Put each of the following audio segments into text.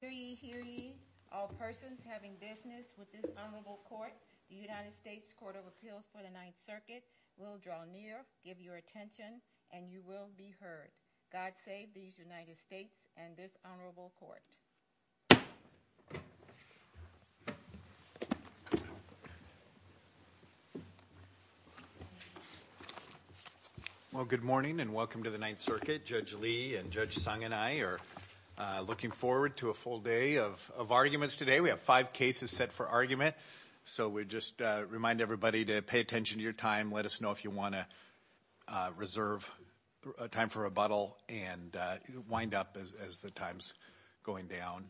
the United States Court of Appeals for the Ninth Circuit. We'll draw near, give your attention, and you will be heard. God save the United States and this honorable court. Well good morning and welcome to the Ninth Circuit. Judge Lee and Judge Sung and I are looking forward to a full day of arguments today. We have five cases set for argument so we just remind everybody to pay attention to your time. Let us know if you want to reserve a time for rebuttal and wind up as the time's going down.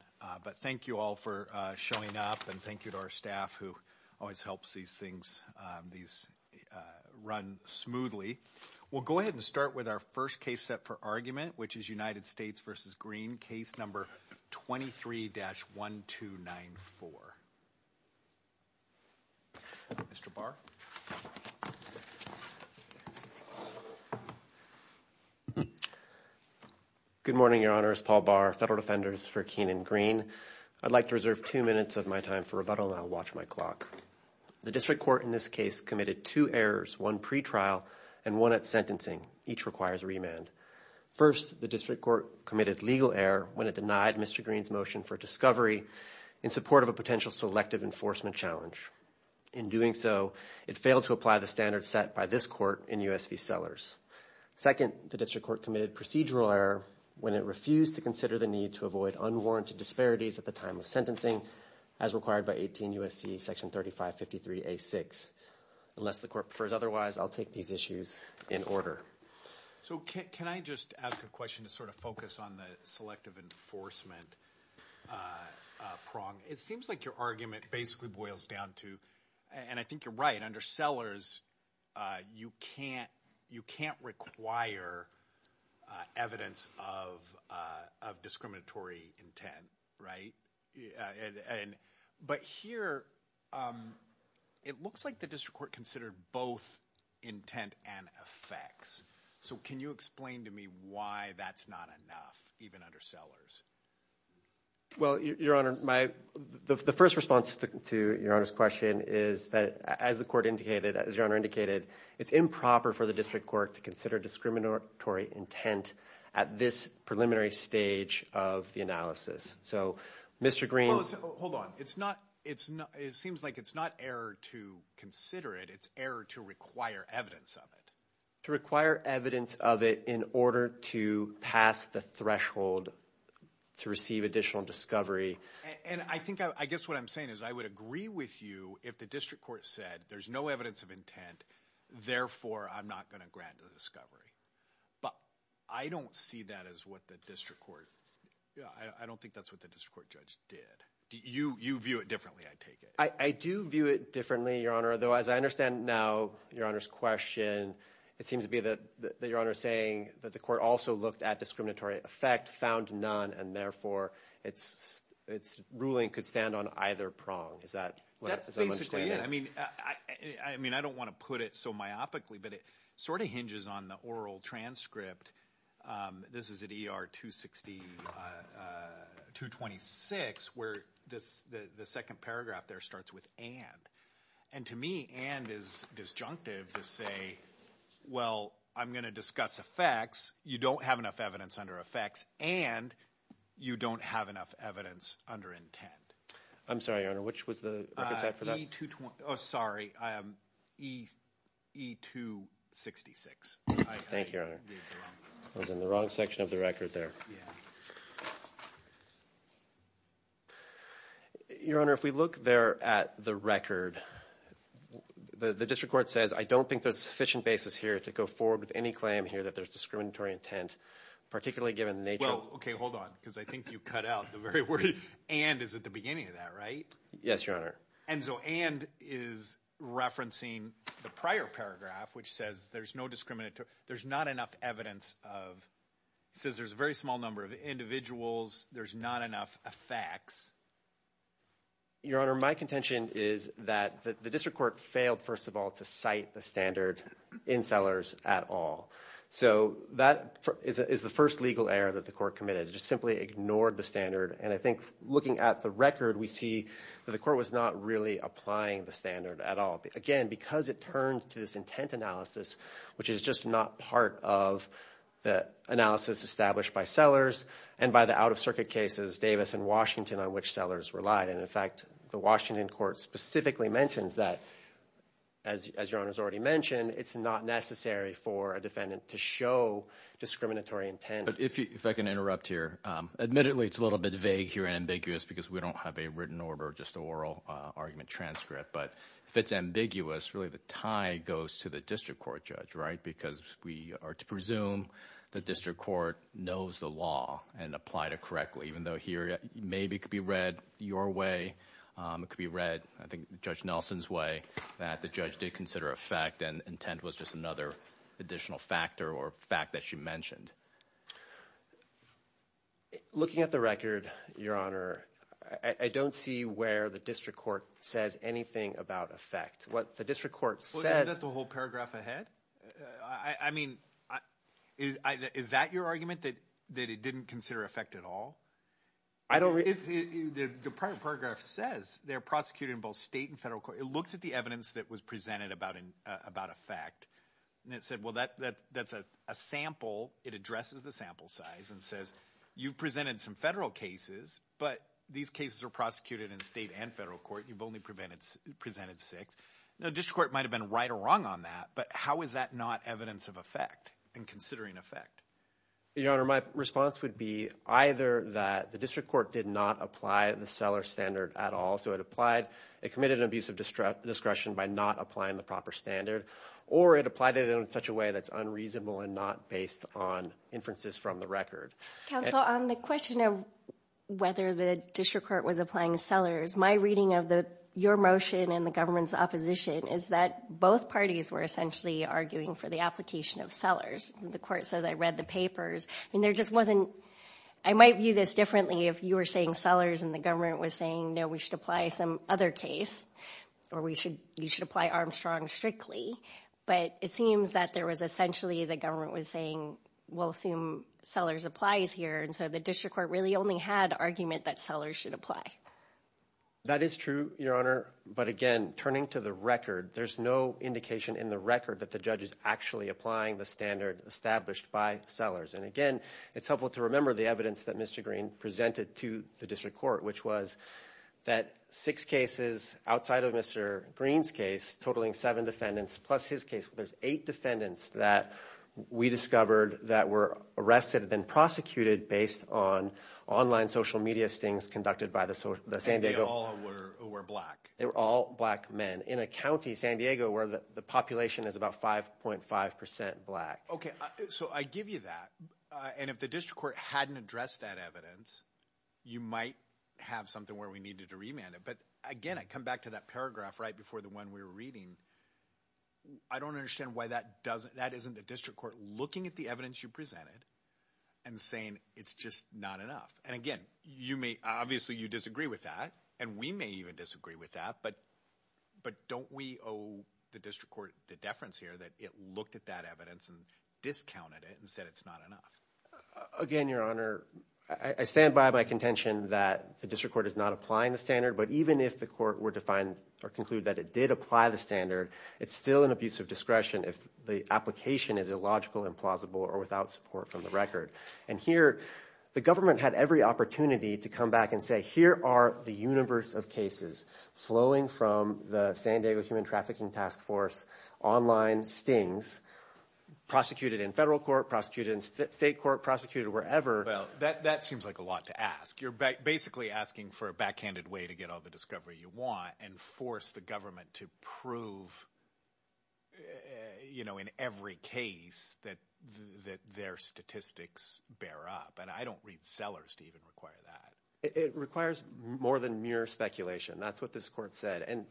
But thank you all for showing up and thank you to our staff who always helps these things these run smoothly. We'll go ahead and start with our first case set for argument, which is United States v. Green, case number 23-1294. Mr. Barr. Good morning, Your Honors. Paul Barr, federal defenders for Keenan Green. I'd like to reserve two minutes of my time for rebuttal and I'll watch my clock. The district court in this case committed two errors, one pretrial and one at sentencing. Each requires remand. First, the district court committed legal error when it denied Mr. Green's motion for discovery in support of a potential selective enforcement challenge. In doing so, it failed to apply the standards set by this court in U.S. v. Sellers. Second, the district court committed procedural error when it refused to consider the need to avoid unwarranted disparities at the time of sentencing as required by 18 U.S.C. Section 3553A6. Unless the court prefers otherwise, I'll take these issues in order. So can I just ask a question to sort of focus on the selective enforcement prong? It seems like your argument basically boils down to, and I think you're right, under Sellers you can't require evidence of discriminatory intent, right? But here it looks like the district court considered both intent and effects. So can you explain to me why that's not enough, even under Sellers? Well, Your Honor, the first response to Your Honor's question is that as the court indicated, it's improper for the district court to consider discriminatory intent at this preliminary stage of the analysis. So Mr. Green... Hold on. It seems like it's not error to consider it, it's error to require evidence of it. To require evidence of it in order to pass the threshold to receive additional discovery... And I guess what I'm saying is I would agree with you if the district court said there's no evidence of intent, therefore I'm not going to grant a discovery. But I don't see that as what the district court, I don't think that's what the district court judge did. You view it differently, I take it. I do view it differently, Your Honor, though as I understand now Your Honor's question, it seems to be that Your Honor is saying that the court also looked at discriminatory effect, found none, and therefore its ruling could stand on either prong. Is that what I'm understanding? I mean, I don't want to put it so myopically, but it sort of hinges on the oral transcript. This is at ER 260, 226, where the second paragraph there starts with and. And to me, and is disjunctive to say, well, I'm going to discuss effects, you don't have enough evidence under effects, and you don't have enough evidence under intent. I'm sorry, Your Honor, which was the record set for that? Sorry, ER 266. Thank you, Your Honor. I was in the wrong section of the record there. Your Honor, if we look there at the record, the district court says, I don't think there's sufficient basis here to go forward with any claim here that there's discriminatory intent, particularly given the nature. Well, okay, hold on, because I think you cut out the very word, and is at the beginning of that, right? Yes, Your Honor. And so, and is referencing the prior paragraph, which says there's no discriminatory, there's not enough evidence of, says there's a very small number of individuals, there's not enough effects. Your Honor, my contention is that the district court failed, first of all, to cite the standard in cellars at all. So that is the first legal error that the court committed. It just simply ignored the standard. And I think looking at the record, we see that the court was not really applying the standard at all. Again, because it turned to this intent analysis, which is just not part of the analysis established by cellars and by the out-of-circuit cases, Davis and Washington, on which cellars relied. And in fact, the Washington court specifically mentions that, as Your Honor's already mentioned, it's not necessary for a defendant to show discriminatory intent. If I can interrupt here. Admittedly, it's a little bit vague here and ambiguous, because we don't have a written order, just an oral argument transcript. But if it's ambiguous, really the tie goes to the district court judge, right? Because we are to presume the district court knows the law and applied it correctly. Even though here, maybe it could be read your way, it could be read, I think, Judge Nelson's way, that the judge did consider effect and intent was just another additional factor or fact that you mentioned. Looking at the record, Your Honor, I don't see where the district court says anything about effect. What the district court says... Well, isn't that the whole paragraph ahead? I mean, is that your argument that it didn't consider effect at all? I don't... The prior paragraph says they're prosecuting both state and federal court. It looks at the evidence that was presented about effect, and it said, well, that's a sample. It addresses the sample size and says, you've presented some federal cases, but these cases are prosecuted in state and federal court. You've only presented six. Now, district court might have been right or wrong on that, but how is that not evidence of effect and considering effect? Your Honor, my response would be either that the district court did not apply the Seller Standard at all, so it committed an abuse of discretion by not applying the proper standard, or it applied it in such a way that's unreasonable and not based on inferences from the record. Counsel, on the question of whether the district court was applying Sellers, my reading of your motion and the government's opposition is that both parties were essentially arguing for the application of Sellers. The court says, I read the papers, and there just wasn't... I might view this differently if you were saying Sellers and the government was saying, no, we should apply some other case, or you should apply Armstrong strictly, but it seems that there was essentially the government was saying, we'll assume Sellers applies here, and so the district court really only had argument that Sellers should apply. That is true, Your Honor, but again, turning to the record, there's no indication in the record that the judge is actually applying the standard established by Sellers, and again, it's helpful to remember the evidence that Mr. Green presented to the district court, which was that six cases outside of Mr. Green's case, totaling seven defendants, plus his case, there's eight defendants that we discovered that were arrested and then prosecuted based on online social media stings conducted by the San Diego... And they all were black. They were all black men in a county, San Diego, where the population is about 5.5% black. Okay, so I give you that, and if the district court hadn't addressed that evidence, you might have something where we needed to remand it, but again, I come back to that paragraph right before the one we were reading. I don't understand why that doesn't... That isn't the district court looking at the evidence you presented and saying it's just not enough, and again, you may... Obviously, you disagree with that, and we may even disagree with that, but don't we owe the district court the deference here that it looked at that evidence and discounted it and said it's not enough? Again, Your Honor, I stand by my contention that the district court is not applying the standard, but even if the court were to find or conclude that it did apply the standard, it's still an abuse of discretion if the application is illogical, implausible, or without support from the record, and here, the government had every opportunity to come back and say, here are the universe of cases flowing from the San Diego Human Trafficking Task Force online stings, prosecuted in federal court, prosecuted in state court, prosecuted wherever. Well, that seems like a lot to ask. You're basically asking for a backhanded way to get all the discovery you want and force the government to prove in every case that their statistics bear up, and I don't read sellers to even require that. It requires more than mere speculation. That's what this court said, and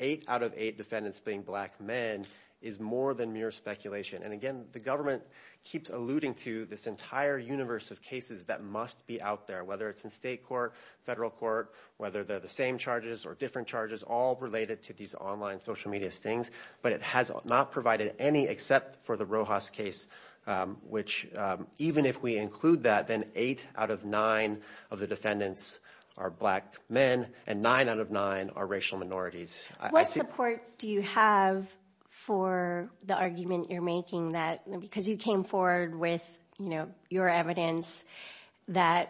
eight out of eight defendants being black men is more than mere speculation, and again, the government keeps alluding to this entire universe of cases that must be out there, whether it's in state court, federal court, whether they're the same charges or different charges, all related to these online social media stings, but it has not provided any except for the Rojas case, which even if we include that, then eight out of nine of the defendants are black men, and nine out of nine are racial minorities. What support do you have for the argument you're making that because you came forward with your evidence that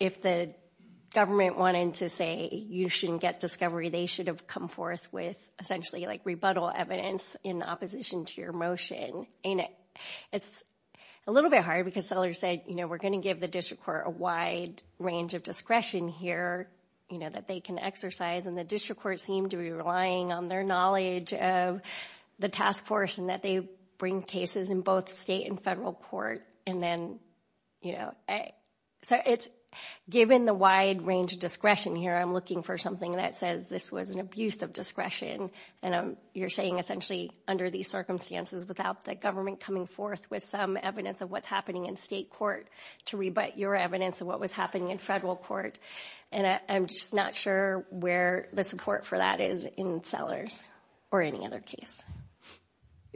if the government wanted to say you shouldn't get discovery, they should have come forth with essentially rebuttal evidence in opposition to your motion? It's a little bit hard because sellers said, we're going to give the district court a wide range of discretion here that they can exercise, and the district court seemed to on their knowledge of the task force and that they bring cases in both state and federal court, and then, you know, so it's given the wide range of discretion here, I'm looking for something that says this was an abuse of discretion, and you're saying essentially under these circumstances without the government coming forth with some evidence of what's happening in state court to rebut your evidence of what was happening in federal court, and I'm just not sure where the support for that is in Sellers or any other case.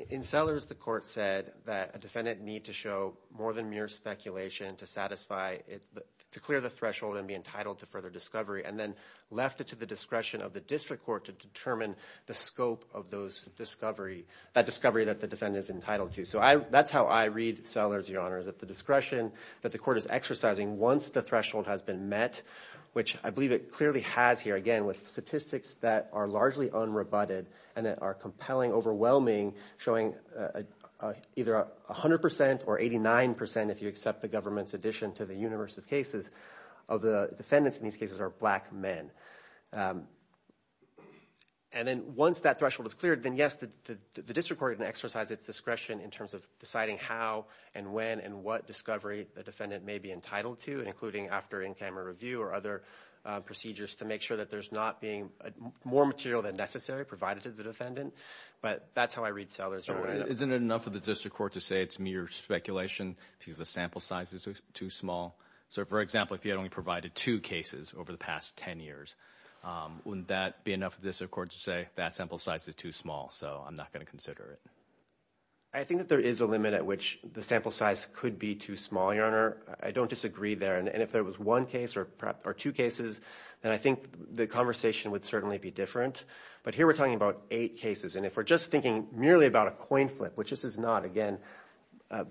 In Sellers, the court said that a defendant need to show more than mere speculation to satisfy it to clear the threshold and be entitled to further discovery, and then left it to the discretion of the district court to determine the scope of that discovery that the defendant is entitled to. So that's how I read Sellers, Your Honor, is that the discretion that the court is exercising once the threshold has been met, which I believe it clearly has here, again, with statistics that are largely unrebutted and that are compelling, overwhelming, showing either 100 percent or 89 percent, if you accept the government's addition to the universe of cases, of the defendants in these cases are black men. And then once that threshold is cleared, then yes, the district court can exercise its discretion in terms of deciding how and when and what discovery the defendant may be entitled to, including after in-camera review or other procedures to make sure that there's not being more material than necessary provided to the defendant, but that's how I read Sellers. Isn't it enough for the district court to say it's mere speculation because the sample size is too small? So for example, if you had only provided two cases over the past 10 years, wouldn't that be enough for the district court to say that sample size is too small, so I'm not going to consider it? I think that there is a limit at which the sample size could be too small, Your Honor. I don't disagree there, and if there was one case or two cases, then I think the conversation would certainly be different, but here we're talking about eight cases, and if we're just thinking merely about a coin flip, which this is not, again,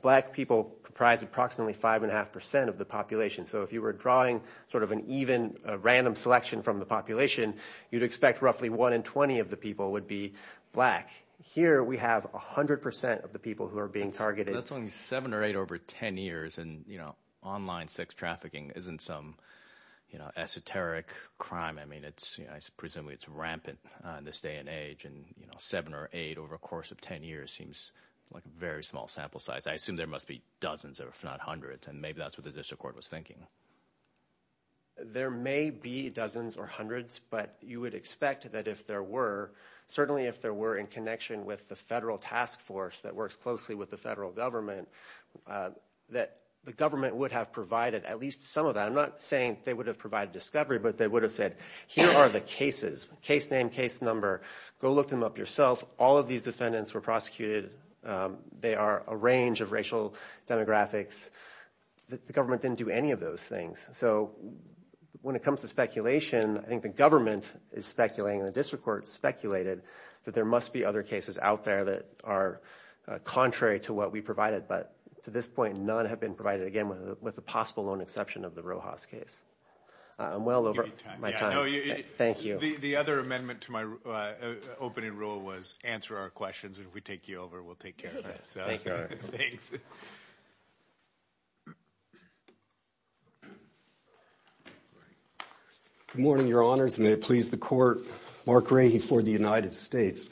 black people comprise approximately five and a half percent of the population, so if you were drawing sort of an even random selection from the population, you'd expect roughly one in 20 of the people would be black. Here we have 100 percent of the people who are being targeted. That's only seven or eight over 10 years, and online sex trafficking isn't some esoteric crime. I mean, presumably it's rampant in this day and age, and seven or eight over a course of 10 years seems like a very small sample size. I assume there must be dozens, if not hundreds, and maybe that's what the district court was thinking. There may be dozens or hundreds, but you would expect that if there were, certainly if there were, in connection with the federal task force that works closely with the federal government, that the government would have provided at least some of that. I'm not saying they would have provided discovery, but they would have said, here are the cases, case name, case number, go look them up yourself. All of these defendants were prosecuted. They are a range of racial demographics. The government didn't do any of those things, so when it comes to speculation, I think the government is speculating, the district court speculated, that there must be other cases out there that are contrary to what we provided, but to this point, none have been provided, again, with the possible loan exception of the Rojas case. I'm well over my time. Thank you. The other amendment to my opening rule was answer our questions, and if we take you over, we'll take care of that. Good morning, your honors. May it please the court. Mark Rahy for the United States.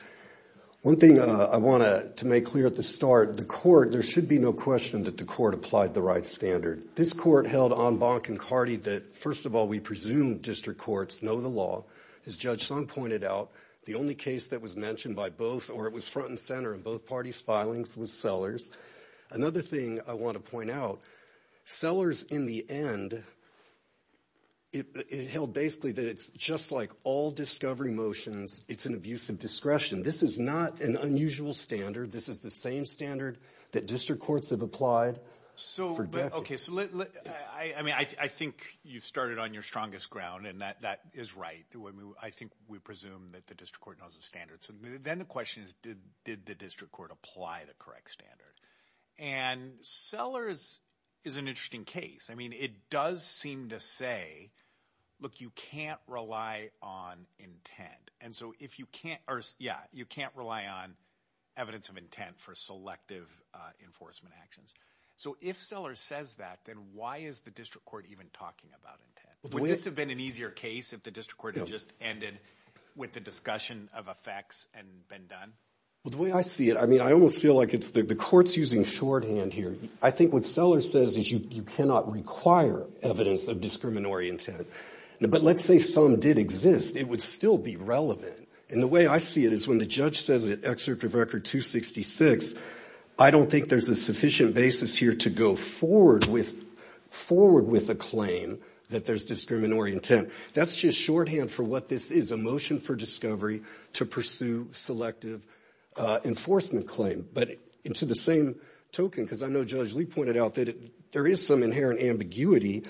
One thing I want to make clear at the start, the court, there should be no question that the court applied the right standard. This court held en banc and carded that, first of all, we presume district courts know the law. As Judge Sung pointed out, the only case that was mentioned by both, or it was front and center in both parties' filings, was Sellers. Another thing I want to point out, Sellers, in the end, it held basically that it's just like all discovery motions, it's an abuse of discretion. This is not an unusual standard. This is the same standard that district courts have applied for decades. I think you've started on your strongest ground, and that is right. I think we presume that the district court knows the standards. Then the question is, did the district court apply the correct standard? Sellers is an interesting case. It does seem to say, look, you can't rely on intent. You can't rely on evidence of intent for selective enforcement actions. If Sellers says that, then why is the district court even talking about intent? Would this have been an easier case if the district court had just ended with the discussion of effects and been done? The way I see it, I almost feel like the court's using shorthand here. I think what Sellers says is you cannot require evidence of discriminatory intent. But let's say some did exist. It would still be relevant. The way I see it is when the judge says in Excerpt of Record 266, I don't think there's a sufficient basis here to go forward with a claim that there's discriminatory intent. That's just shorthand for what this is, a motion for discovery to pursue selective enforcement claim. But to the same token, because I know Judge Lee pointed out that there is some inherent ambiguity,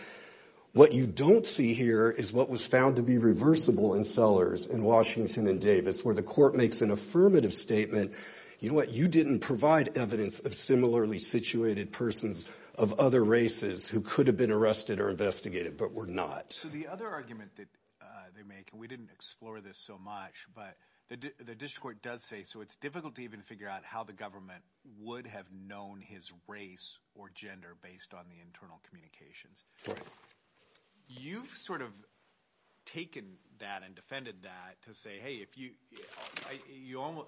what you don't see here is what was found to be reversible in Sellers in Washington and Davis, where the court makes an affirmative statement. You know what? You didn't provide evidence of similarly situated persons of other races who could have been arrested or investigated, but were not. So the other argument that they make, and we didn't explore this so much, but the district court does say, so it's difficult to even figure out how the government would have known his race or gender based on the internal communications. You've sort of taken that and defended that to say, hey, if you,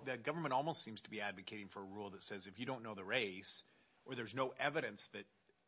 the government almost seems to be advocating for a rule that says if you don't know the race, or there's no evidence that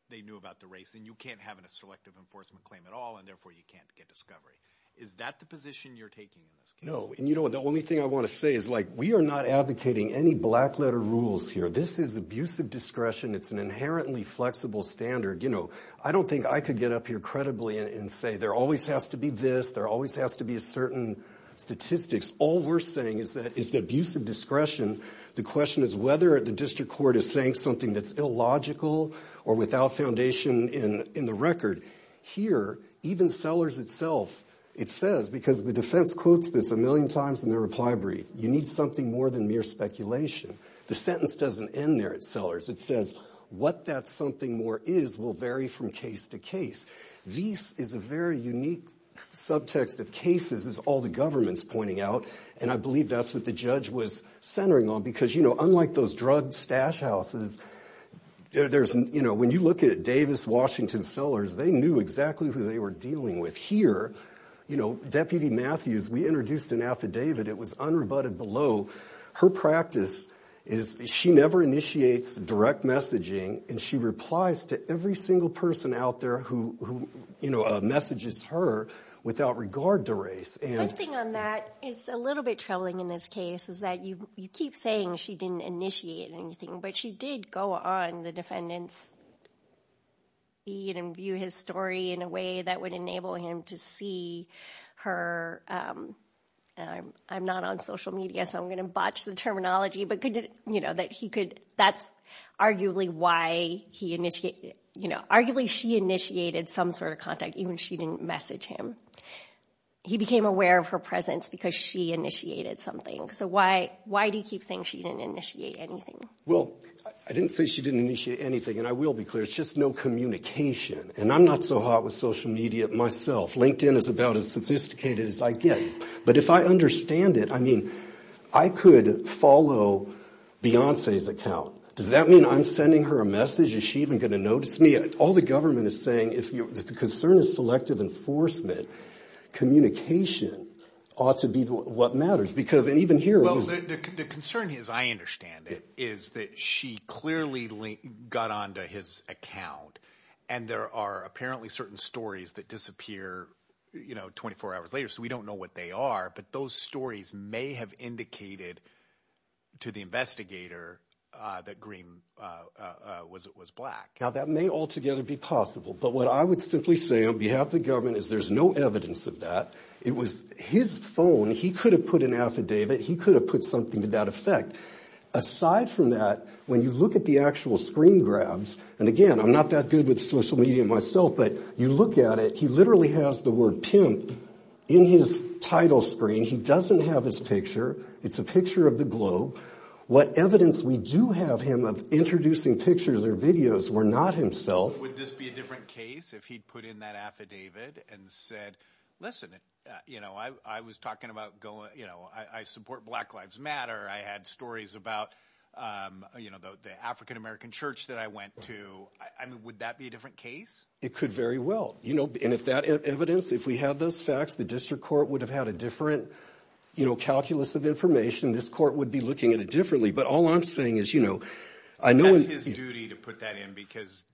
they knew about the race, then you can't have a selective enforcement claim at all, and therefore you can't get discovery. Is that the position you're taking? No. And you know what? The only thing I want to say is like, we are not advocating any black letter rules here. This is abusive discretion. It's an inherently flexible standard. You know, I don't think I could get up here credibly and say there always has to be this. There always has to be a certain statistics. All we're saying is that it's abusive discretion. The question is whether the district court is saying something that's illogical or without foundation in the record. Here, even Sellers itself, it says, because the defense quotes this a million times in their reply brief, you need something more than mere speculation. The sentence doesn't end there at Sellers. It says what that something more is will vary from case to case. This is a very unique subtext of cases as all the government's pointing out, and I believe that's what the judge was centering on because, you know, unlike those drug stash houses, there's, you know, when you look at Davis, Washington, Sellers, they knew exactly who they were dealing with. Here, you know, Deputy Matthews, we introduced an affidavit. It was unrebutted below. Her practice is she never initiates direct messaging, and she replies to every single person out there who, you know, messages her without regard to race. One thing on that is a little bit troubling in this case is that you keep saying she didn't initiate anything, but she did go on the defendant's feed and view his story in a way that would enable him to see her. I'm not on social media, so I'm going to botch the terminology, but, you know, that he could, that's arguably why he initiated, you know, arguably she initiated some sort of contact even if she didn't message him. He became aware of her presence because she initiated something, so why do you keep saying she didn't initiate anything? Well, I didn't say she didn't initiate anything, and I will be clear, it's just no communication, and I'm not so hot with social media myself. LinkedIn is about as sophisticated as I get, but if I understand it, I mean, I could follow Beyonce's account. Does that mean I'm sending her a message? Is she even going to notice me? All the government is saying that the concern is selective enforcement. Communication ought to be what matters, because even here... Well, the concern is, I understand it, is that she clearly got onto his account, and there are apparently certain stories that disappear, you know, 24 hours later, so we don't know what they are, but those stories may have indicated to the investigator that Green was black. Now, that may altogether be possible, but what I would simply say on behalf of the government is there's no evidence of that. It was his phone, he could have put an affidavit, he could have put something to that effect. Aside from that, when you look at the actual screen grabs, and again, I'm not that good with social media myself, but you look at it, he literally has the word pimp in his title screen. He doesn't have his picture. It's a picture of the globe. What evidence we do have him of introducing pictures or videos were not himself. Would this be a different case if he'd put in that affidavit and said, listen, I was talking about going... I support Black Lives Matter. I had stories about the African American church that I went to. I mean, would that be a different case? It could very well, and if that evidence, if we have those facts, the district court would have had a different calculus of information. This court would be looking at it differently, but all I'm saying is... I know it's his duty to put that in because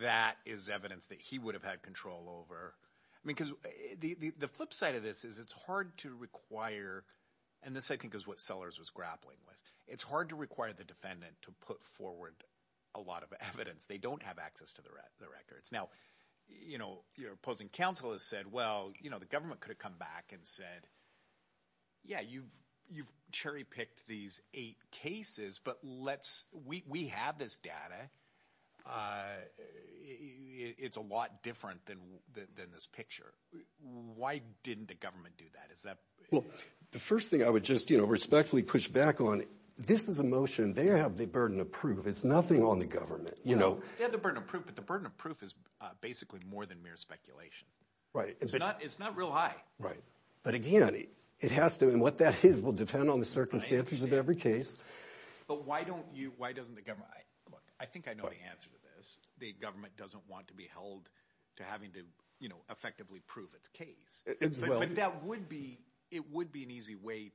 that is evidence that he would have had control over. I mean, because the flip side of this is it's hard to require, and this I think is what Sellers was grappling with. It's hard to require the defendant to put forward a lot of evidence. They don't have access to the records. Now, your opposing counsel has said, well, the government could have come back and said, yeah, you've cherry picked these eight cases, but we have this data. It's a lot different than this picture. Why didn't the government do that? The first thing I would just respectfully push back on, this is a motion. They have the burden of proof. It's nothing on the government. They have the burden of proof, but the burden is speculation. It's not real high, but again, it has to, and what that is will depend on the circumstances of every case. I think I know the answer to this. The government doesn't want to be held to having to effectively prove its case, but it would be an easy way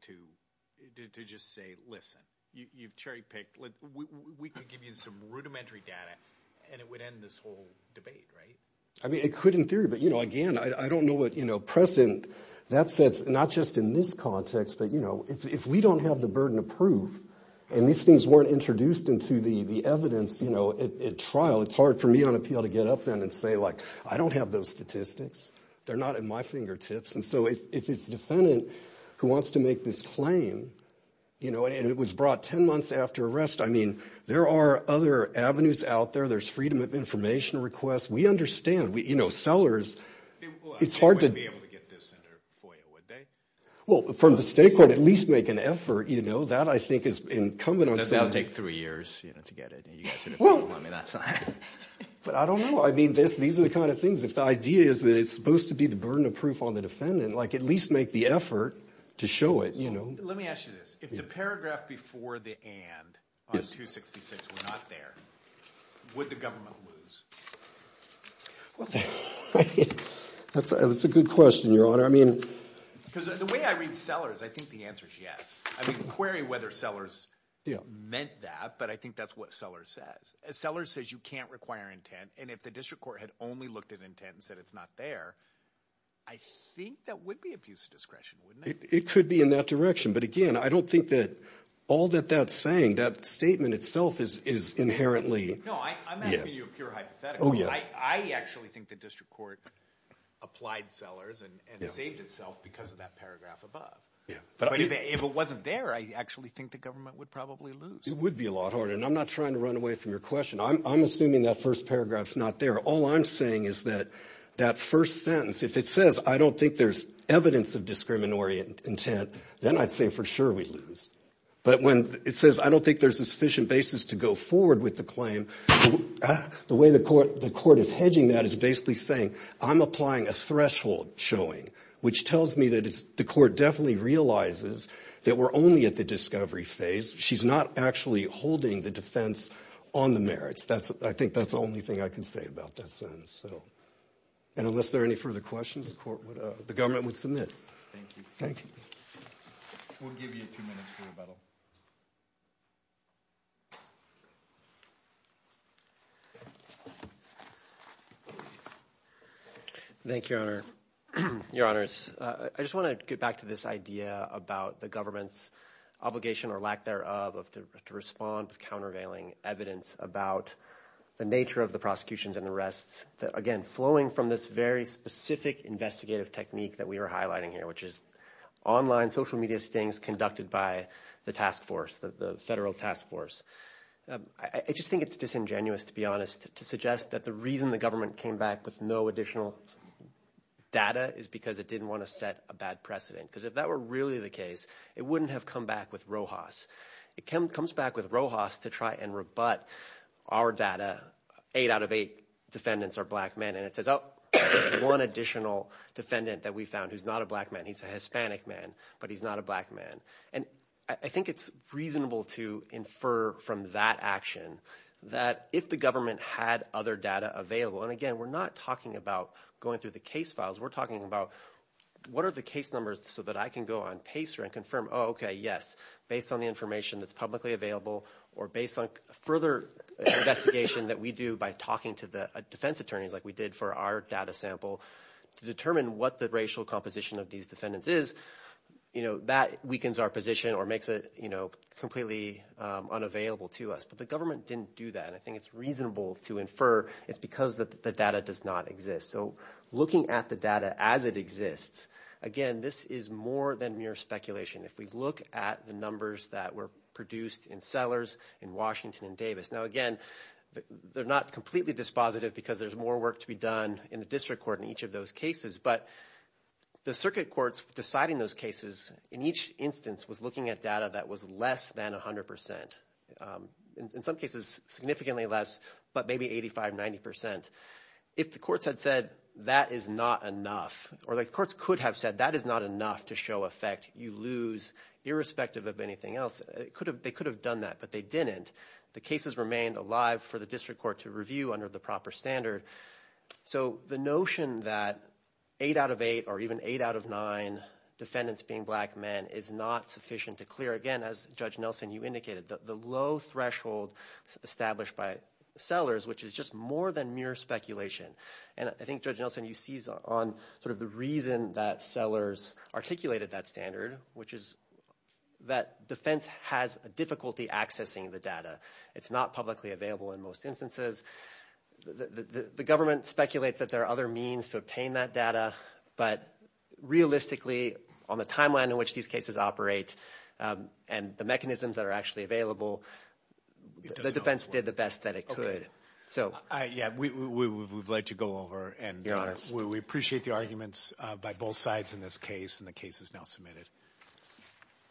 to just say, listen, you've cherry picked. We could give you some rudimentary data and it would end this whole debate, right? I mean, it could in theory, but again, I don't know what precedent that sets, not just in this context, but if we don't have the burden of proof and these things weren't introduced into the evidence at trial, it's hard for me on appeal to get up then and say, I don't have those statistics. They're not in my fingertips, and so if it's the defendant who wants to make this claim and it was brought 10 months after arrest, I mean, there are other avenues out there. There's freedom of information requests. We understand, you know, sellers, it's hard to... They wouldn't be able to get this under FOIA, would they? Well, from the state court, at least make an effort, you know, that I think is incumbent on... That would take three years, you know, to get it, and you guys are the people, I mean, that's... But I don't know. I mean, these are the kind of things, if the idea is that it's supposed to be the burden of proof on the defendant, like at least make the effort to show it, you know? Let me ask you this. If the paragraph before the and on 266 were not there, would the government lose? Well, that's a good question, Your Honor. I mean... Because the way I read sellers, I think the answer is yes. I mean, query whether sellers meant that, but I think that's what sellers says. Sellers says you can't require intent, and if the district court had only looked at intent and said it's not there, I think that would be abuse of discretion, wouldn't it? It could be in that direction, but again, I don't think that all that that's saying, that statement itself is inherently... No, I'm asking you a pure hypothetical. I actually think the district court applied sellers and saved itself because of that paragraph above. Yeah. But if it wasn't there, I actually think the government would probably lose. It would be a lot harder, and I'm not trying to run away from your question. I'm assuming that first paragraph's not there. All I'm saying is that that first sentence, if it says I don't think there's evidence of discriminatory intent, then I'd say for sure we lose. But when it says I don't think there's a sufficient basis to go forward with the claim, the way the court is hedging that is basically saying I'm applying a threshold showing, which tells me that the court definitely realizes that we're only at the discovery phase. She's not actually holding the defense on the merits. I think that's the only thing I can say about that sentence. And unless there are any further questions, the government would submit. Thank you. Thank you. We'll give you a few minutes for rebuttal. Thank you, Your Honor. Your Honors, I just want to get back to this idea about the government's obligation or lack thereof to respond with countervailing evidence about the nature of prosecutions and arrests. Again, flowing from this very specific investigative technique that we are highlighting here, which is online social media stings conducted by the task force, the federal task force. I just think it's disingenuous, to be honest, to suggest that the reason the government came back with no additional data is because it didn't want to set a bad precedent. Because if that were really the case, it wouldn't have come back with Rojas. It comes back with Rojas to try and rebut our data. Eight out of eight defendants are black men. And it says, oh, there's one additional defendant that we found who's not a black man. He's a Hispanic man, but he's not a black man. And I think it's reasonable to infer from that action that if the government had other data available, and again, we're not talking about going through the case files. We're talking about what are the case numbers so that I can go on Pacer and confirm, oh, okay, yes, based on the information that's publicly available, or based on further investigation that we do by talking to the defense attorneys like we did for our data sample to determine what the racial composition of these defendants is, that weakens our position or makes it completely unavailable to us. But the government didn't do that. And I think it's reasonable to infer it's because the data does not exist. So looking at the data as it exists, again, this is more than mere speculation. If we look at the numbers that were produced in Sellers, in Washington, in Davis. Now, again, they're not completely dispositive because there's more work to be done in the district court in each of those cases. But the circuit courts deciding those cases in each instance was looking at data that was less than 100 percent. In some cases, significantly less, but maybe 85, 90 percent. If the courts had said that is not enough, or the courts could have said that is not enough to show effect, you lose irrespective of anything else. They could have done that, but they didn't. The cases remained alive for the district court to review under the proper standard. So the notion that eight out of eight or even eight out of nine defendants being black men is not sufficient to clear, again, as Judge Nelson, you indicated, the low threshold established by Sellers, which is just more than mere speculation. And I think, Judge Nelson, you seize on sort of the reason that Sellers articulated that standard, which is that defense has a difficulty accessing the data. It's not publicly available in most instances. The government speculates that there are other means to obtain that data, but realistically, on the timeline in which these cases operate and the mechanisms that actually available, the defense did the best that it could. Yeah, we would like to go over. We appreciate the arguments by both sides in this case, and the case is now submitted.